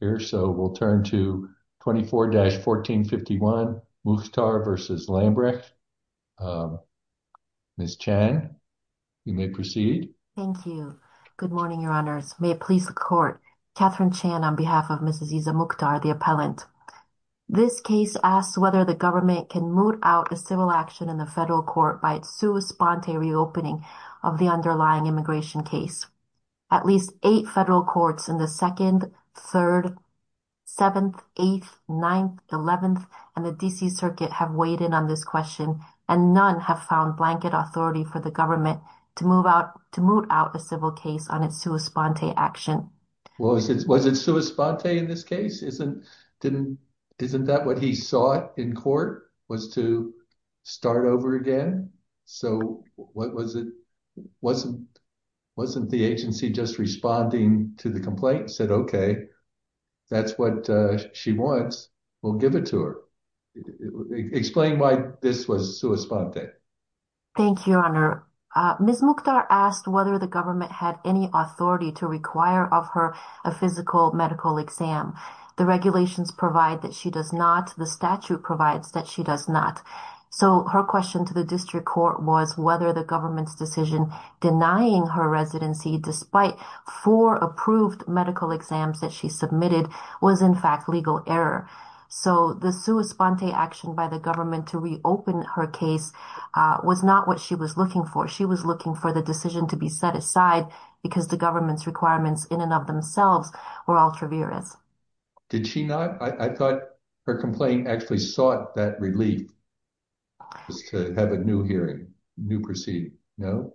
here so we'll turn to 24-1451 Mukhtar v. Lambrecht. Ms. Chan you may proceed. Thank you. Good morning your honors. May it please the court. Catherine Chan on behalf of Mrs. Iza Mukhtar the appellant. This case asks whether the government can moot out a civil action in the federal court by its sua sponte reopening of the underlying immigration case. At least eight federal courts in the second, third, seventh, eighth, ninth, eleventh, and the D.C. circuit have weighed in on this question and none have found blanket authority for the government to move out to moot out a civil case on its sua sponte action. Was it sua sponte in this case? Isn't that what he sought in court was to start over again? So what was it wasn't the agency just responding to the complaint said okay that's what she wants we'll give it to her. Explain why this was sua sponte. Thank you your honor. Ms. Mukhtar asked whether the government had any authority to require of her a physical medical exam. The regulations provide that she does not. The statute provides that she does not. So her question to the district court was whether the government's decision denying her residency despite four approved medical exams that she submitted was in fact legal error. So the sua sponte action by the government to reopen her case was not what she was looking for. She was looking for the decision to be set aside because the government's requirements in and of themselves were altruist. Did she not I thought her complaint actually sought that relief was to have a new hearing new proceeding no?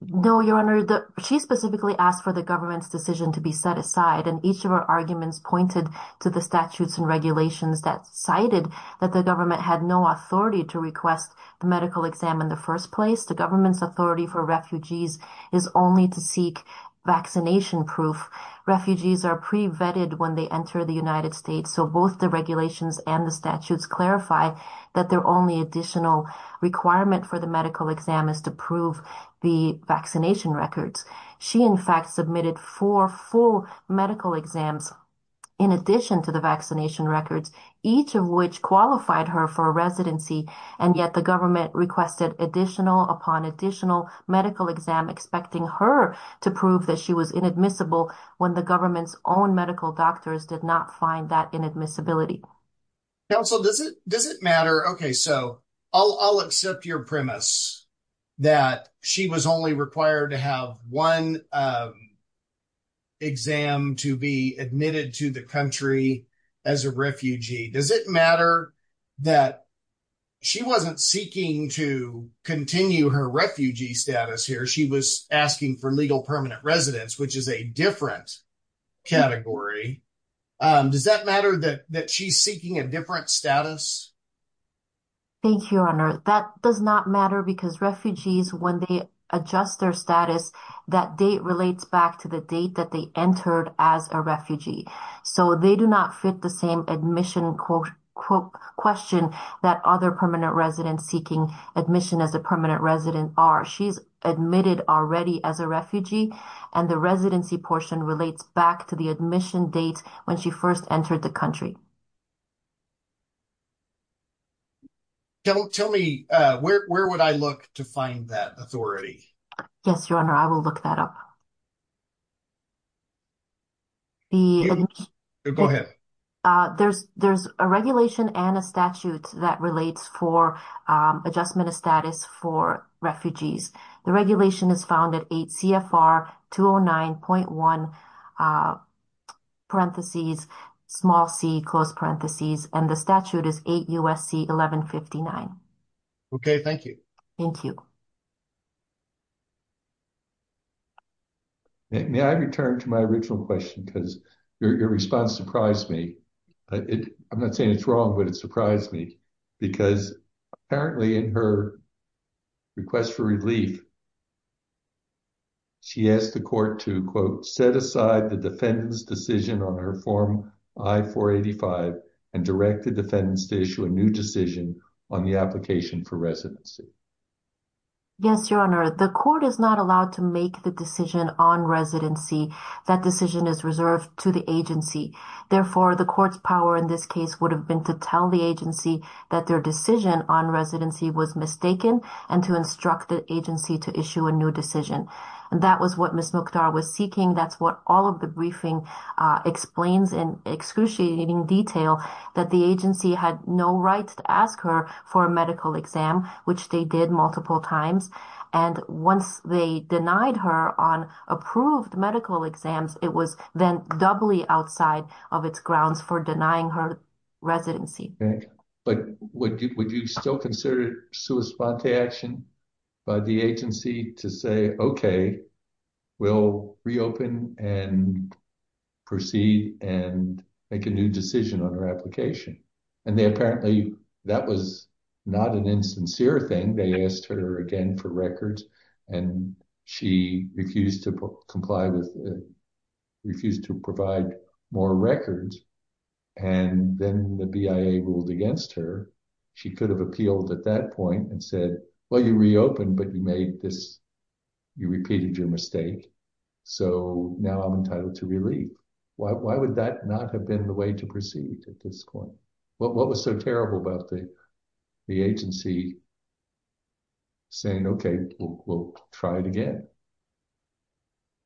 No your honor the she specifically asked for the government's decision to be set aside and each of her arguments pointed to the statutes and regulations that cited that the government had no authority to request the medical exam in the Refugees are pre-vetted when they enter the United States so both the regulations and the statutes clarify that their only additional requirement for the medical exam is to prove the vaccination records. She in fact submitted four full medical exams in addition to the vaccination records each of which qualified her for a residency and yet the government requested additional upon additional medical exam expecting her to prove that she was inadmissible when the government's own medical doctors did not find that inadmissibility. Counsel does it does it matter? Okay so I'll accept your premise that she was only required to have one exam to be admitted to the as a refugee. Does it matter that she wasn't seeking to continue her refugee status here? She was asking for legal permanent residence which is a different category. Does that matter that that she's seeking a different status? Thank you your honor that does not matter because refugees when they adjust their status that date relates back to the date that they entered as a so they do not fit the same admission question that other permanent residents seeking admission as a permanent resident are. She's admitted already as a refugee and the residency portion relates back to the admission date when she first entered the country. Tell me where would I look to find that authority? Yes your honor I will look that up. The go ahead. There's there's a regulation and a statute that relates for adjustment of status for refugees. The regulation is found at 8 CFR 209.1 parentheses small c close parentheses and the statute is 8 USC 1159. Okay thank you. Thank you. May I return to my original question because your response surprised me. I'm not saying it's wrong but it surprised me because apparently in her request for relief she asked the court to quote set aside the defendant's decision on her form I-485 and direct the defendants to issue a new decision on the application for residency. Yes your honor the court is not allowed to make the decision on residency that decision is reserved to the agency therefore the court's power in this case would have been to tell the agency that their decision on residency was mistaken and to instruct the agency to issue a new decision and that was what Ms. Mokdar was seeking that's what all of the briefing explains in excruciating detail that the agency had no right to ask her for a medical exam which they did multiple times and once they denied her on approved medical exams it was then doubly outside of its grounds for denying her residency. Okay but would you would you still consider it sua sponte action by the agency to say okay we'll reopen and proceed and make a new decision on her application and they apparently that was not an insincere thing they asked her again for records and she refused to comply with refused to provide more records and then the BIA ruled against her she could have appealed at that point and said well you reopened but you made this you repeated your mistake so now i'm entitled to relief why would that not have been the way to proceed at this point what was so terrible about the agency saying okay we'll try it again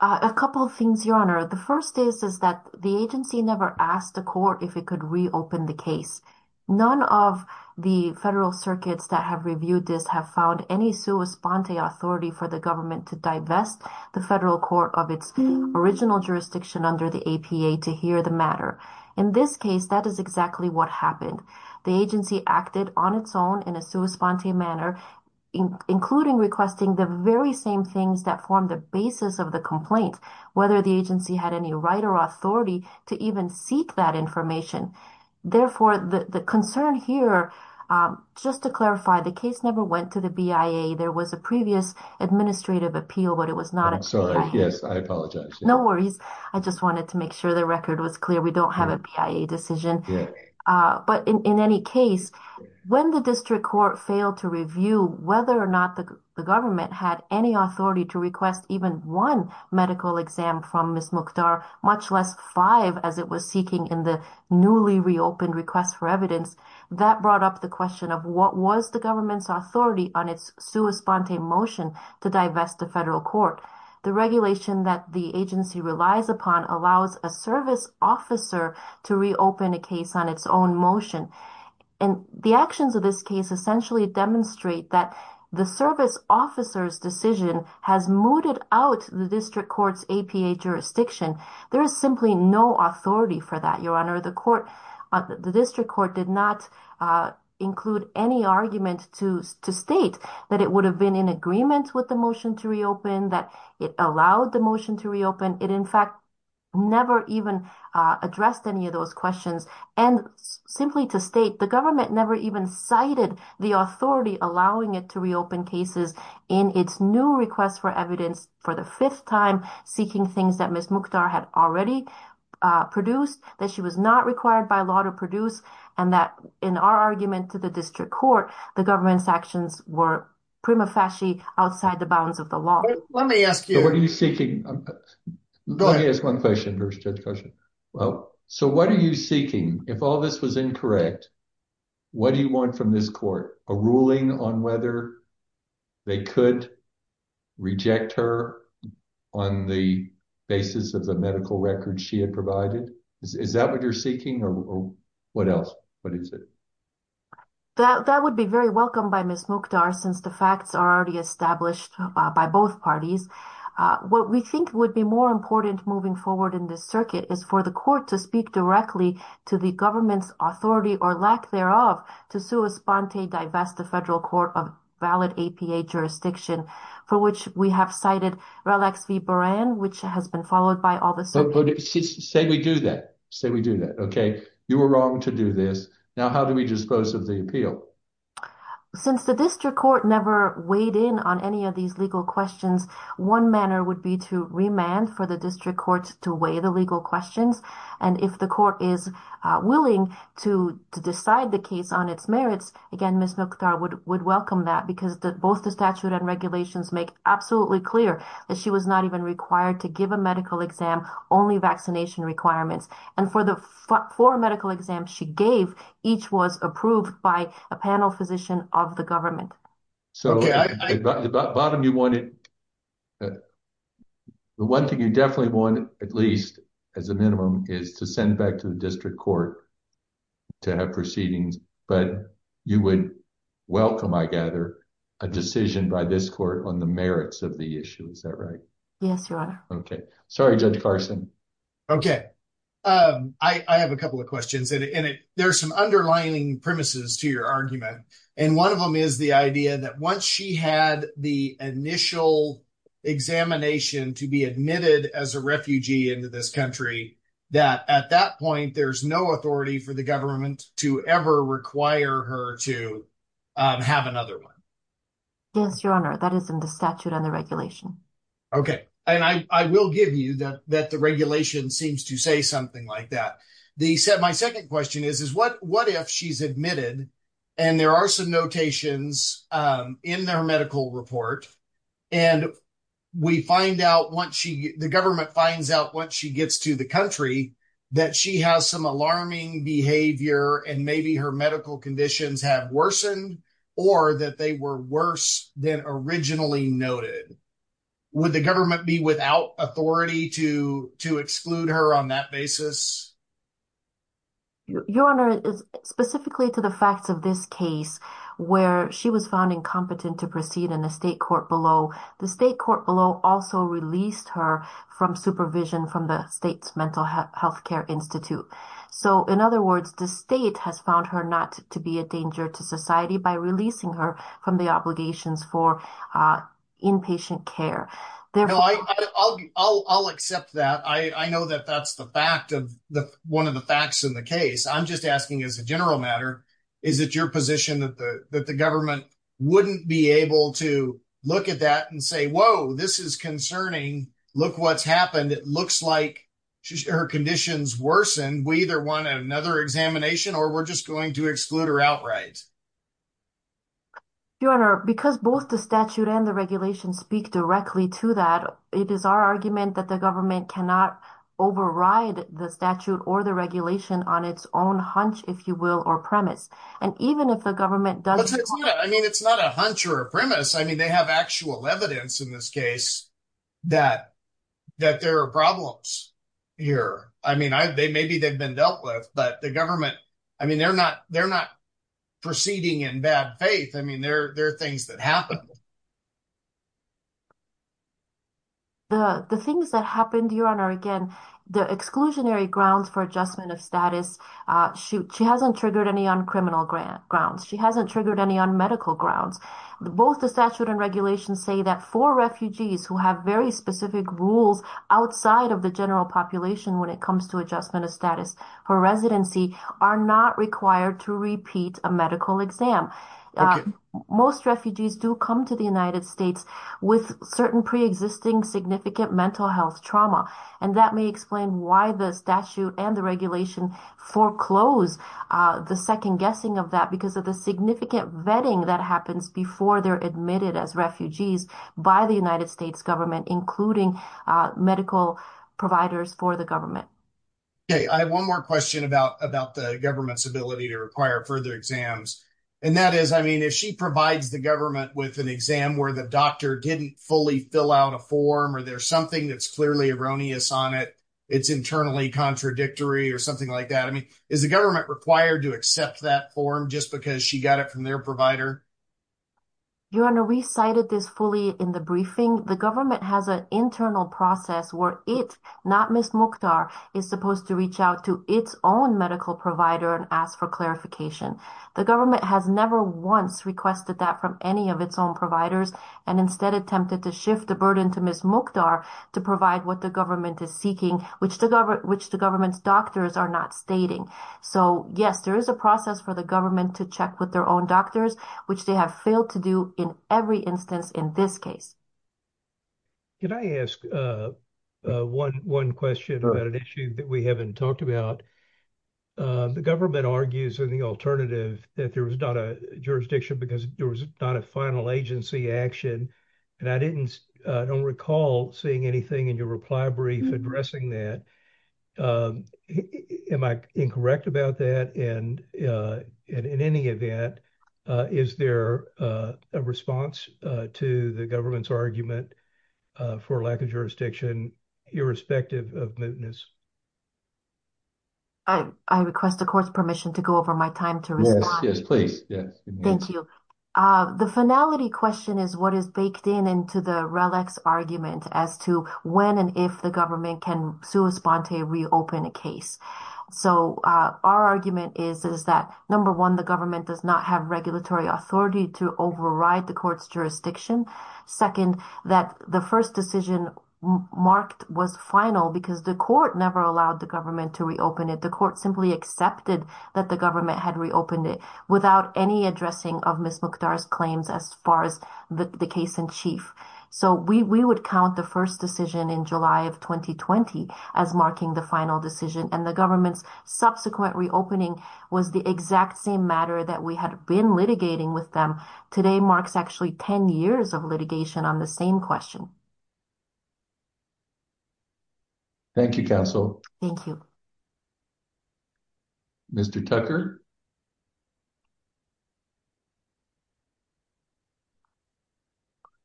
a couple of things your honor the first is is that the agency never asked the court if it could reopen the case none of the federal circuits that have reviewed this have found any sua sponte authority for the government to divest the federal court of its original jurisdiction under the APA to hear the matter in this case that is exactly what happened the agency acted on its own in a sua sponte manner including requesting the very same things that form the basis of the complaint whether the agency had any right or authority to even seek that information therefore the the concern here just to clarify the case never went to the BIA there was a previous administrative appeal but it was not i'm sorry yes i apologize no worries i just wanted to make sure the record was clear we don't have a BIA decision but in any case when the district court failed to review whether or not the government had any authority to request even one medical exam from miss mukdar much less five as it was seeking in the newly reopened request for evidence that brought up the question of what was the government's authority on its sua sponte motion to divest the federal court the regulation that the agency relies upon allows a service officer to reopen a case on its own motion and the actions of this case essentially demonstrate that the service officer's decision has mooted out the district court's APA jurisdiction there is simply no authority for that your honor the court the district court did not uh include any argument to to state that it would have been in agreement with the motion to reopen that it allowed the in fact never even addressed any of those questions and simply to state the government never even cited the authority allowing it to reopen cases in its new request for evidence for the fifth time seeking things that miss mukdar had already produced that she was not required by law to produce and that in our argument to the district court the government's actions were prima facie outside the bounds of the law let me ask you what are you seeking let me ask one question first question well so what are you seeking if all this was incorrect what do you want from this court a ruling on whether they could reject her on the basis of the medical records she had provided is that what you're seeking or what else what is it that that would be very welcome by miss mukdar since the facts are already established by both parties uh what we think would be more important moving forward in this circuit is for the court to speak directly to the government's authority or lack thereof to sue esponte divest the federal court of valid apa jurisdiction for which we have cited relax v baran which has been followed by all this say we do that say we do that okay you were wrong to do this now how do we dispose of the appeal since the district court never weighed in on any of these legal questions one manner would be to remand for the district courts to weigh the legal questions and if the court is willing to to decide the case on its merits again miss mukdar would would welcome that because that both the statute and regulations make absolutely clear that she was not even required to give a medical exam only vaccination requirements and for the four medical exams she gave each was approved by a panel physician of the government so the bottom you wanted the one thing you definitely wanted at least as a minimum is to send back to the district court to have proceedings but you would welcome i gather a decision by this court on the merits of the issue is that right yes your honor okay sorry judge carson okay um i i have a couple of questions and there's some underlying premises to your argument and one of them is the idea that once she had the initial examination to be admitted as a refugee into this country that at that point there's no authority for the government to ever require her to have another one yes your honor that is in the statute and the regulation okay and i i will give you that that the regulation seems to say something like that they said my second question is is what what if she's admitted and there are some notations um in their medical report and we find out once she the government finds out once she gets to the country that she has some alarming behavior and maybe her medical conditions have worsened or that they were worse than originally noted would the government be without authority to to exclude her on that basis your honor is specifically to the facts of this case where she was found incompetent to proceed in the state court below the state court below also released her from supervision from the state's mental health care institute so in other words the state has found her not to be a danger to society by releasing her from the obligations for uh inpatient care therefore i'll i'll i'll accept that i i know that that's the fact of the one of the facts in the case i'm just asking as a general matter is it your position that the that the government wouldn't be able to look at that and say whoa this is concerning look what's happened it looks like her conditions worsened we either want another examination or we're just going to exclude her outright your honor because both the statute and the regulation speak directly to that it is our argument that the government cannot override the statute or the regulation on its own hunch if you will or premise and even if the government does i mean it's not a hunch or a premise i mean they have actual evidence in this case that that there are problems here i mean i they maybe they've been dealt with but the government i mean they're not they're not proceeding in bad faith i mean there are things that happen the the things that happened your honor again the exclusionary grounds for adjustment of status uh shoot she hasn't triggered any on criminal grant grounds she hasn't triggered any on medical grounds both the statute and regulations say that for refugees who have very specific rules outside of the general population when it comes to adjustment of status her residency are not required to repeat a medical exam most refugees do come to the united states with certain pre-existing significant mental health trauma and that may explain why the statute and the regulation foreclose uh the second guessing of that because of the significant vetting that happens before they're admitted as refugees by the united states government including uh medical providers for the government okay i have one more question about about the government's ability to require further exams and that is i mean if she provides the government with an exam where the doctor didn't fully fill out a form or there's something that's clearly erroneous on it it's internally contradictory or something like that i mean is the government required to accept that form just because she got it from their provider you're going to recite this fully in the briefing the government has an internal process where it not miss mukhtar is supposed to reach out to its own medical provider and ask for clarification the government has never once requested that from any of its own providers and instead attempted to shift the burden to miss mukhtar to provide what the government is seeking which the government which the government's doctors are not stating so yes there is a process for the government to with their own doctors which they have failed to do in every instance in this case can i ask uh uh one one question about an issue that we haven't talked about uh the government argues in the alternative that there was not a jurisdiction because there was not a final agency action and i didn't uh don't recall seeing anything in your reply brief addressing that um am i incorrect about that and uh and in any event uh is there a response uh to the government's argument uh for lack of jurisdiction irrespective of mootness i i request the court's permission to go over my time to respond yes please yes thank you uh the finality question is what is baked in into the relics argument as to when and if the government can sue esponte reopen a case so uh our argument is is that number one the government does not have regulatory authority to override the court's jurisdiction second that the first decision marked was final because the court never allowed the government to reopen it the court simply accepted that the government had reopened it without any addressing of miss mukhtar's claims as far as the case in chief so we we would count the first decision in july of 2020 as marking the final decision and the government's subsequent reopening was the exact same matter that we had been litigating with them today marks actually 10 years of litigation on the same question thank you counsel thank you mr tucker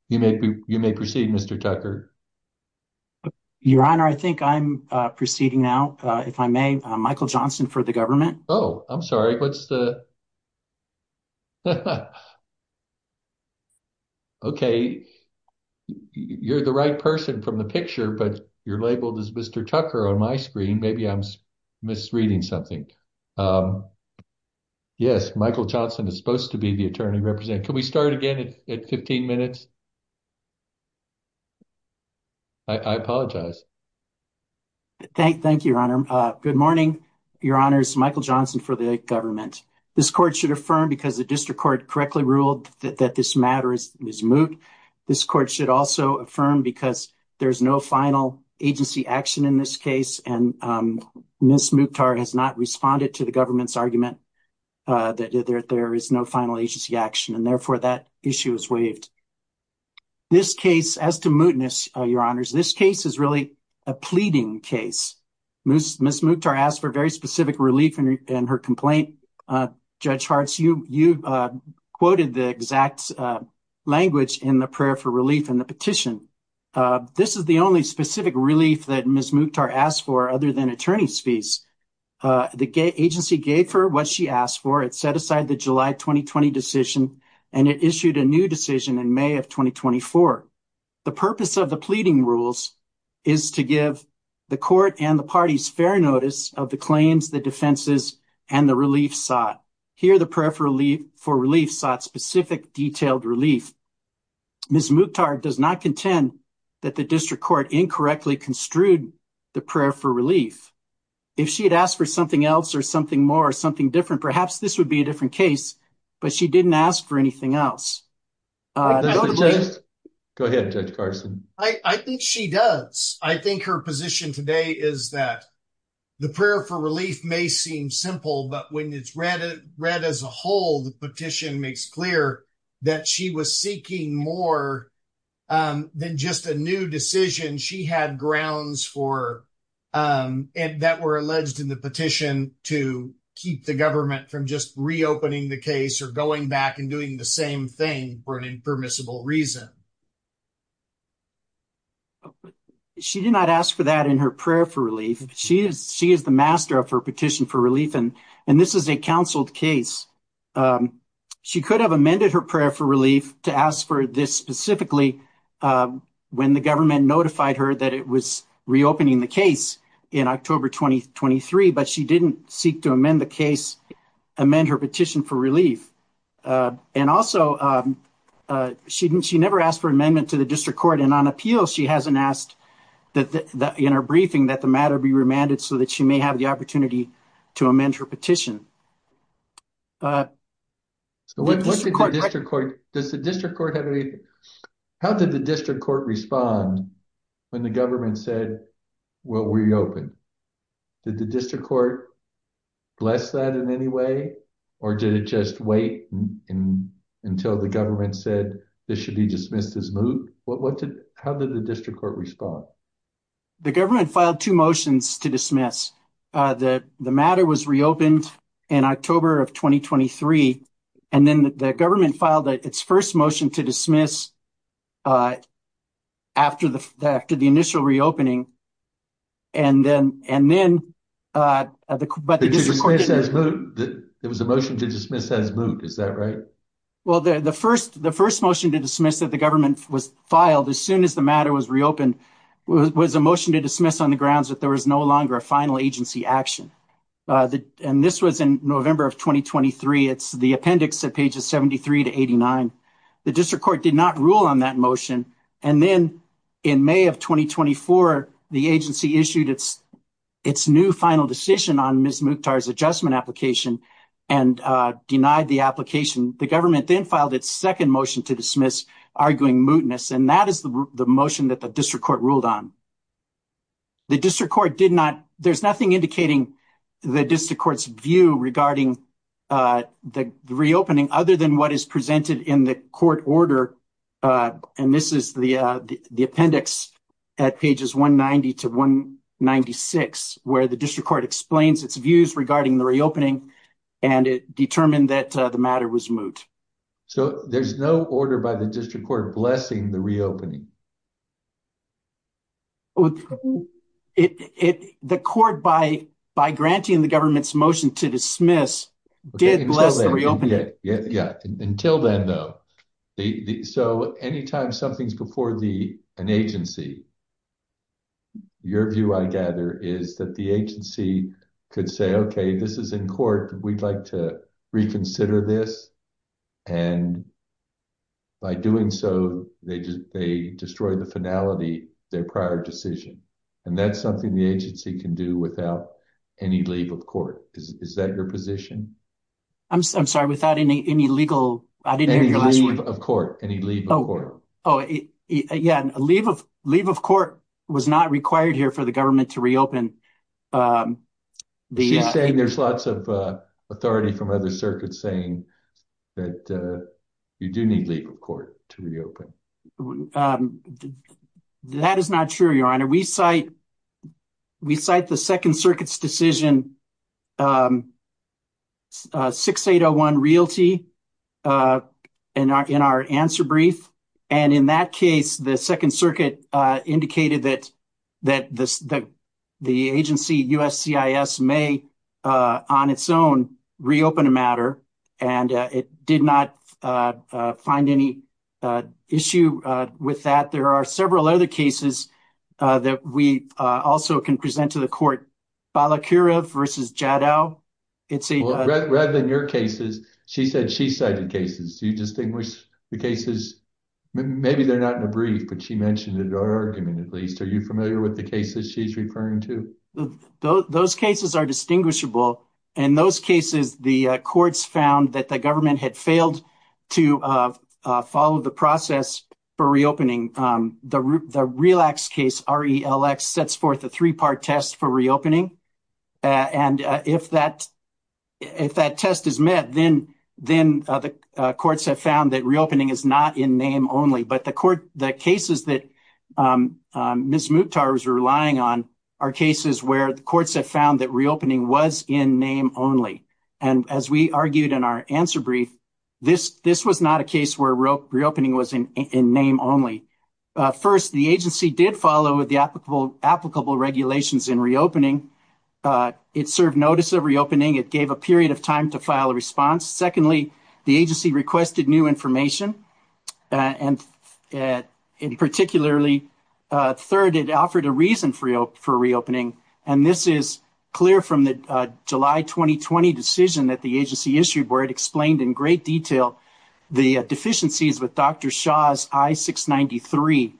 you may you may proceed mr tucker your honor i think i'm uh proceeding now uh if i may michael johnson for the government oh i'm sorry what's the okay you're the right person from the picture but you're labeled as mr tucker on my screen maybe i'm misreading something um yes michael johnson is supposed to be the attorney representing can we start again at 15 minutes i i apologize thank thank you your honor uh good morning your honors michael johnson for the government this court should affirm because the district court correctly ruled that this matter is moot this court should also affirm because there's no final agency action in this case and um miss mukhtar has not responded to the government's argument uh that there is no final agency action and therefore that issue is waived this case as to mootness your honors this case is really a pleading case miss mukhtar asked for very specific relief in her complaint uh judge harts you you uh quoted the exact uh language in the prayer for relief in the petition uh this is the only specific relief that miss mukhtar asked for other than attorney's fees uh the agency gave her what she asked for it set aside the july 2020 decision and it issued a new decision in may of 2024 the purpose of the pleading rules is to give the court and the party's fair notice of the claims the defenses and the relief sought here preferably for relief sought specific detailed relief miss mukhtar does not contend that the district court incorrectly construed the prayer for relief if she had asked for something else or something more something different perhaps this would be a different case but she didn't ask for anything else uh go ahead judge carson i i think she does i think her position today is that the prayer for relief may seem simple but when it's read it read as a whole the petition makes clear that she was seeking more than just a new decision she had grounds for um and that were alleged in the petition to keep the government from just reopening the case or going back and doing the same thing for an impermissible reason um she did not ask for that in her prayer for relief she is she is the master of her petition for relief and and this is a counseled case um she could have amended her prayer for relief to ask for this specifically uh when the government notified her that it was reopening the case in october 2023 but she didn't seek to amend the case amend her petition for relief uh and also um uh she didn't she never asked for amendment to the district court and on appeal she hasn't asked that that in her briefing that the matter be remanded so that she may have the opportunity to amend her petition uh so what did the district court does the district court have any how did the district court respond when the government said will reopen did the district court bless that in any way or did it just wait and until the government said this should be dismissed as moved what what did how did the district court respond the government filed two motions to dismiss uh the the matter was reopened in october of 2023 and then the government filed its first motion to dismiss uh after the after the initial reopening and then and then uh but there was a motion to dismiss as moved is that right well the the first the first motion to dismiss that the government was filed as soon as the matter was reopened was a motion to dismiss on the grounds that there was no longer a final agency action uh and this was in november of 2023 it's the appendix at pages 73 to 89 the district court did not rule on that motion and then in may of 2024 the agency issued its its new final decision on ms muktar's adjustment application and uh denied the application the government then filed its second motion to dismiss arguing mootness and that is the motion that the district court ruled on the district court did not there's nothing indicating the district court's view regarding uh the reopening other than what is presented in the court order uh and this is the the appendix at pages 190 to 196 where the district court explains its views regarding the reopening and it determined that the matter was moot so there's no order by the district blessing the reopening it it the court by by granting the government's motion to dismiss did bless the reopening yeah yeah until then though the so anytime something's before the an agency your view i gather is that agency could say okay this is in court we'd like to reconsider this and by doing so they just they destroy the finality their prior decision and that's something the agency can do without any leave of court is that your position i'm sorry without any any legal i didn't hear your last word of court any legal court oh yeah a leave of leave of court was not required here for the government to reopen um she's saying there's lots of uh authority from other circuits saying that uh you do need leave of court to reopen um that is not true your honor we cite we cite the second circuit's decision um 6801 realty uh and in our answer brief and in that case the second circuit indicated that that this that the agency uscis may on its own reopen a matter and it did not find any issue with that there are several other cases that we also can present to the court balakira versus jadow it's a rather than your cases she said she cited cases do you distinguish the cases maybe they're not in a brief but she mentioned in her argument at least are you familiar with the cases she's referring to those cases are distinguishable in those cases the courts found that the government had failed to uh follow the process for reopening um the the relax case relx sets forth a three-part test for reopening and if that if that test is met then the courts have found that reopening is not in name only but the court the cases that um miss mukhtar was relying on are cases where the courts have found that reopening was in name only and as we argued in our answer brief this this was not a case where reopening was in name only first the agency did follow with the applicable applicable regulations in reopening uh it served notice of reopening it gave a period of time to file a response secondly the agency requested new information and and particularly uh third it offered a reason for for reopening and this is clear from the july 2020 decision that the agency issued where it explained in great detail the deficiencies with dr shah's i-693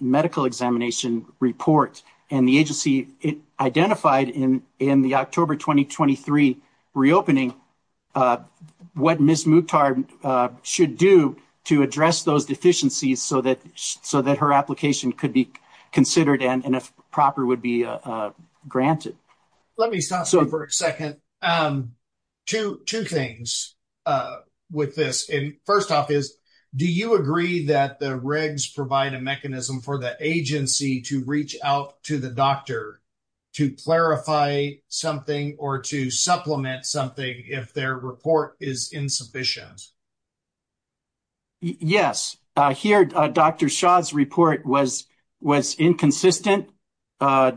medical examination report and the identified in in the october 2023 reopening uh what miss mukhtar uh should do to address those deficiencies so that so that her application could be considered and and if proper would be uh uh granted let me stop so for a second um two two things uh with this and first off is do you agree that the regs provide a mechanism for the agency to reach out to the doctor to clarify something or to supplement something if their report is insufficient yes uh here dr shah's report was was inconsistent uh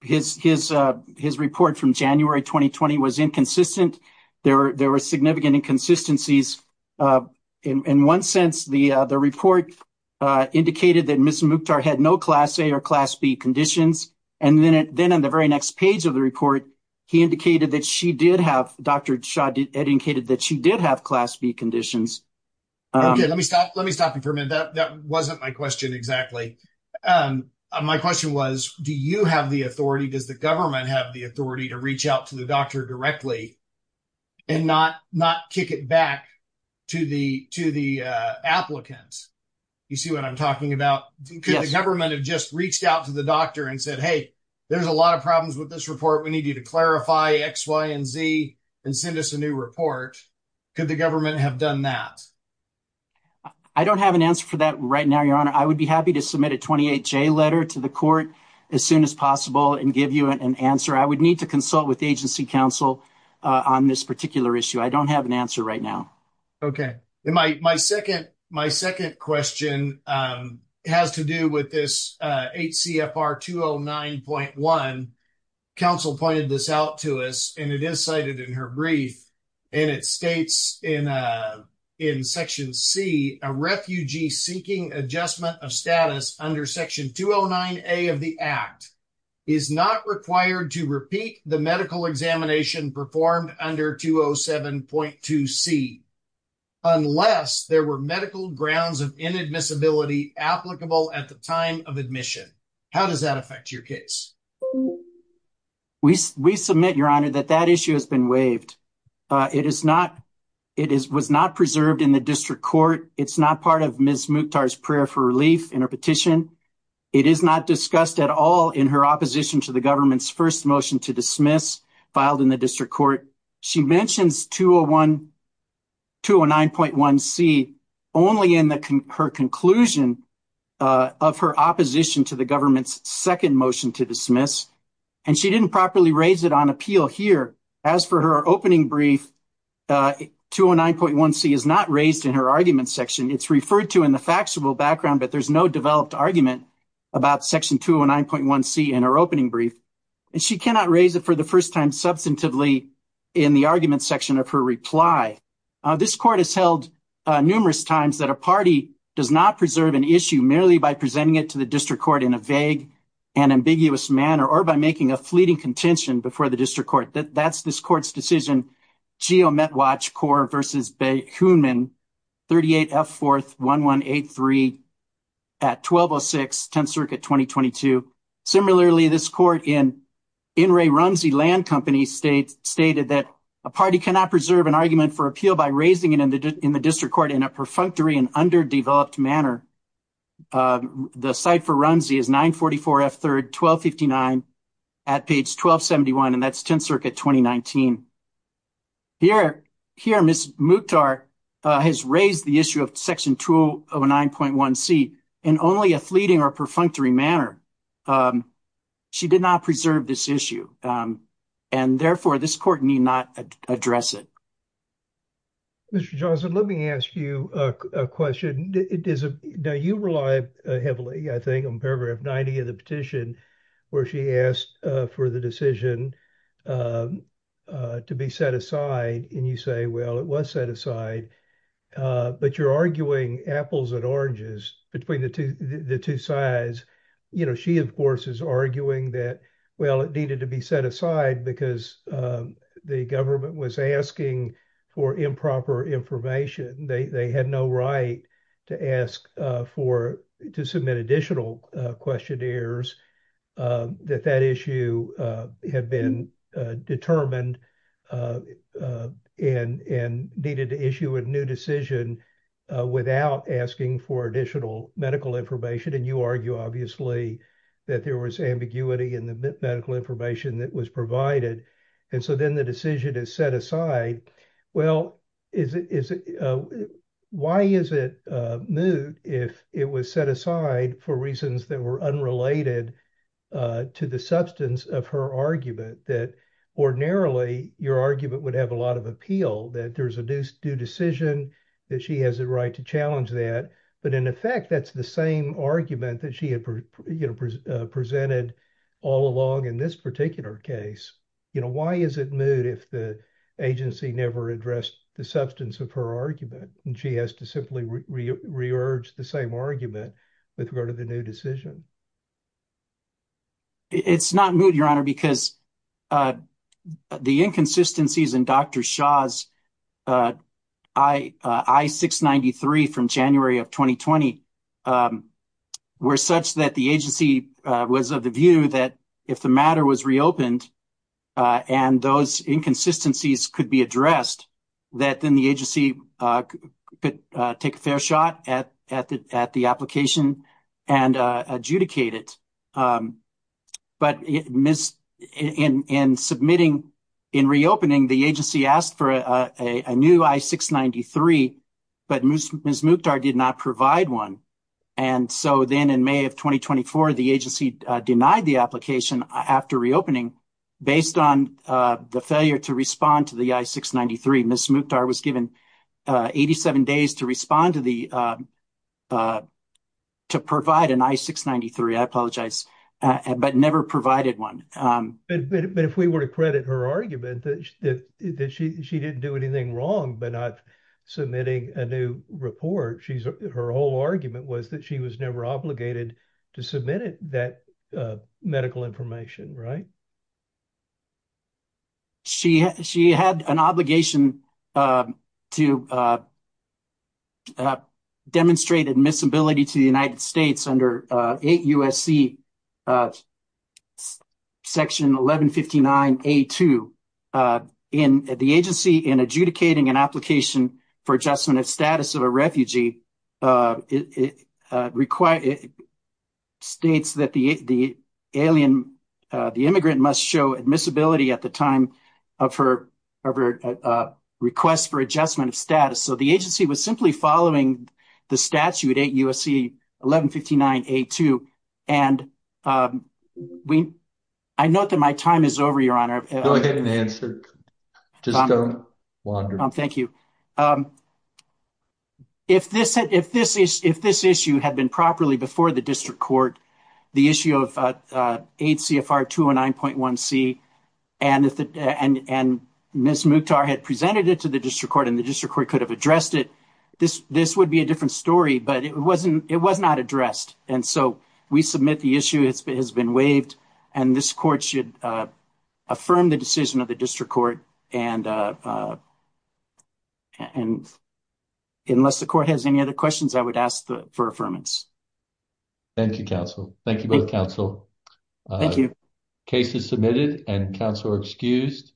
his his uh his report from january 2020 was inconsistent there were there were significant inconsistencies uh in in one sense the uh the report uh indicated that miss mukhtar had no class a or class b conditions and then then on the very next page of the report he indicated that she did have dr shah dedicated that she did have class b conditions okay let me stop let me stop you for a minute that that wasn't my question exactly um my question was do you have the authority does the government have the authority to reach out to the doctor directly and not not kick it back to the to the uh applicants you see what i'm talking about could the government have just reached out to the doctor and said hey there's a lot of problems with this report we need you to clarify x y and z and send us a new report could the government have done that i don't have an answer for that right now your honor i would be happy to submit a 28 j letter to the court as soon as possible and give you an answer i would need to consult with agency council on this particular issue i don't have an answer right now okay my my second my second question um has to do with this uh hcfr 209.1 council pointed this out to us and it is cited in her brief and it states in uh in section c a refugee seeking adjustment of status under section 209a of the act is not required to repeat the medical examination performed under 207.2 c unless there were medical grounds of inadmissibility applicable at the time of admission how does that affect your case we we submit your honor that that issue has been waived uh it is not it is was not preserved in the district court it's not part of ms mukhtar's relief in her petition it is not discussed at all in her opposition to the government's first motion to dismiss filed in the district court she mentions 201 209.1 c only in the her conclusion of her opposition to the government's second motion to dismiss and she didn't properly raise it on appeal here as for her opening brief uh 209.1 c is not raised in her argument section it's referred to in the factual background but there's no developed argument about section 209.1 c in her opening brief and she cannot raise it for the first time substantively in the argument section of her reply uh this court has held uh numerous times that a party does not preserve an issue merely by presenting it to the district court in a vague and ambiguous manner or by making a fleeting contention before the district court that that's this court's decision geo met watch core versus bay hoonman 38 f fourth 1183 at 1206 10th circuit 2022 similarly this court in in ray runsy land company state stated that a party cannot preserve an argument for appeal by raising it in the district court in a perfunctory and underdeveloped manner the site for runsy is 944 f third 1259 at page 1271 and that's 10th circuit 2019 here here miss mutar uh has raised the issue of section 209.1 c in only a fleeting or perfunctory manner um she did not preserve this issue um and therefore this court need not address it mr johnson let me ask you a question it is a now you rely heavily i think on paragraph 90 of the to be set aside and you say well it was set aside uh but you're arguing apples and oranges between the two the two sides you know she of course is arguing that well it needed to be set aside because um the government was asking for improper information they they had no right to ask for to submit additional questionnaires that that issue had been determined and and needed to issue a new decision without asking for additional medical information and you argue obviously that there was ambiguity in the medical information that was provided and so then the decision is set aside well is it is it uh why is it uh moot if it was set aside for reasons that were unrelated uh to the substance of her argument that ordinarily your argument would have a lot of appeal that there's a due decision that she has the right to challenge that but in effect that's the same argument that she had you know presented all along in this particular case you know why is it moot if the agency never addressed the substance of her argument and she has to simply re-re-urge the same argument with regard to the new decision it's not moot your honor because uh the inconsistencies in dr shah's uh i i 693 from january of 2020 um were such that the agency was of the view that if the matter was reopened uh and those inconsistencies could be addressed that then the agency could take a fair shot at at the at the application and uh adjudicate it um but miss in in submitting in reopening the agency asked for a a new i-693 but ms mukhtar did not provide one and so then in may of 2024 the agency denied the application after reopening based on uh the failure to respond to the i-693 miss mukhtar was given uh 87 days to respond to the uh uh to provide an i-693 i apologize but never provided one um but but if we were to credit her argument that that she she didn't do anything wrong but not submitting a new report she's her whole argument was that she was never obligated to submit it that uh medical information right uh she she had an obligation uh to uh uh demonstrate admissibility to the united states under uh 8 usc uh section 1159 a2 uh in the agency in adjudicating an application for adjustment of status of a refugee uh it uh require it states that the the alien the immigrant must show admissibility at the time of her of her uh request for adjustment of status so the agency was simply following the statute 8 usc 1159 a2 and um we i note that my time is over your honor go ahead and answer just don't wander thank you um if this had if this is if this issue had been properly before the district court the issue of uh uh 8 cfr 209.1 c and if the and and miss mukhtar had presented it to the district court and the district court could have addressed it this this would be a different story but it wasn't it was not addressed and so we submit the issue it's been has been waived and this court should uh affirm the decision of the district court and uh and unless the court has any other questions i would ask the for affirmance thank you counsel thank you both counsel thank you cases submitted and counsel are excused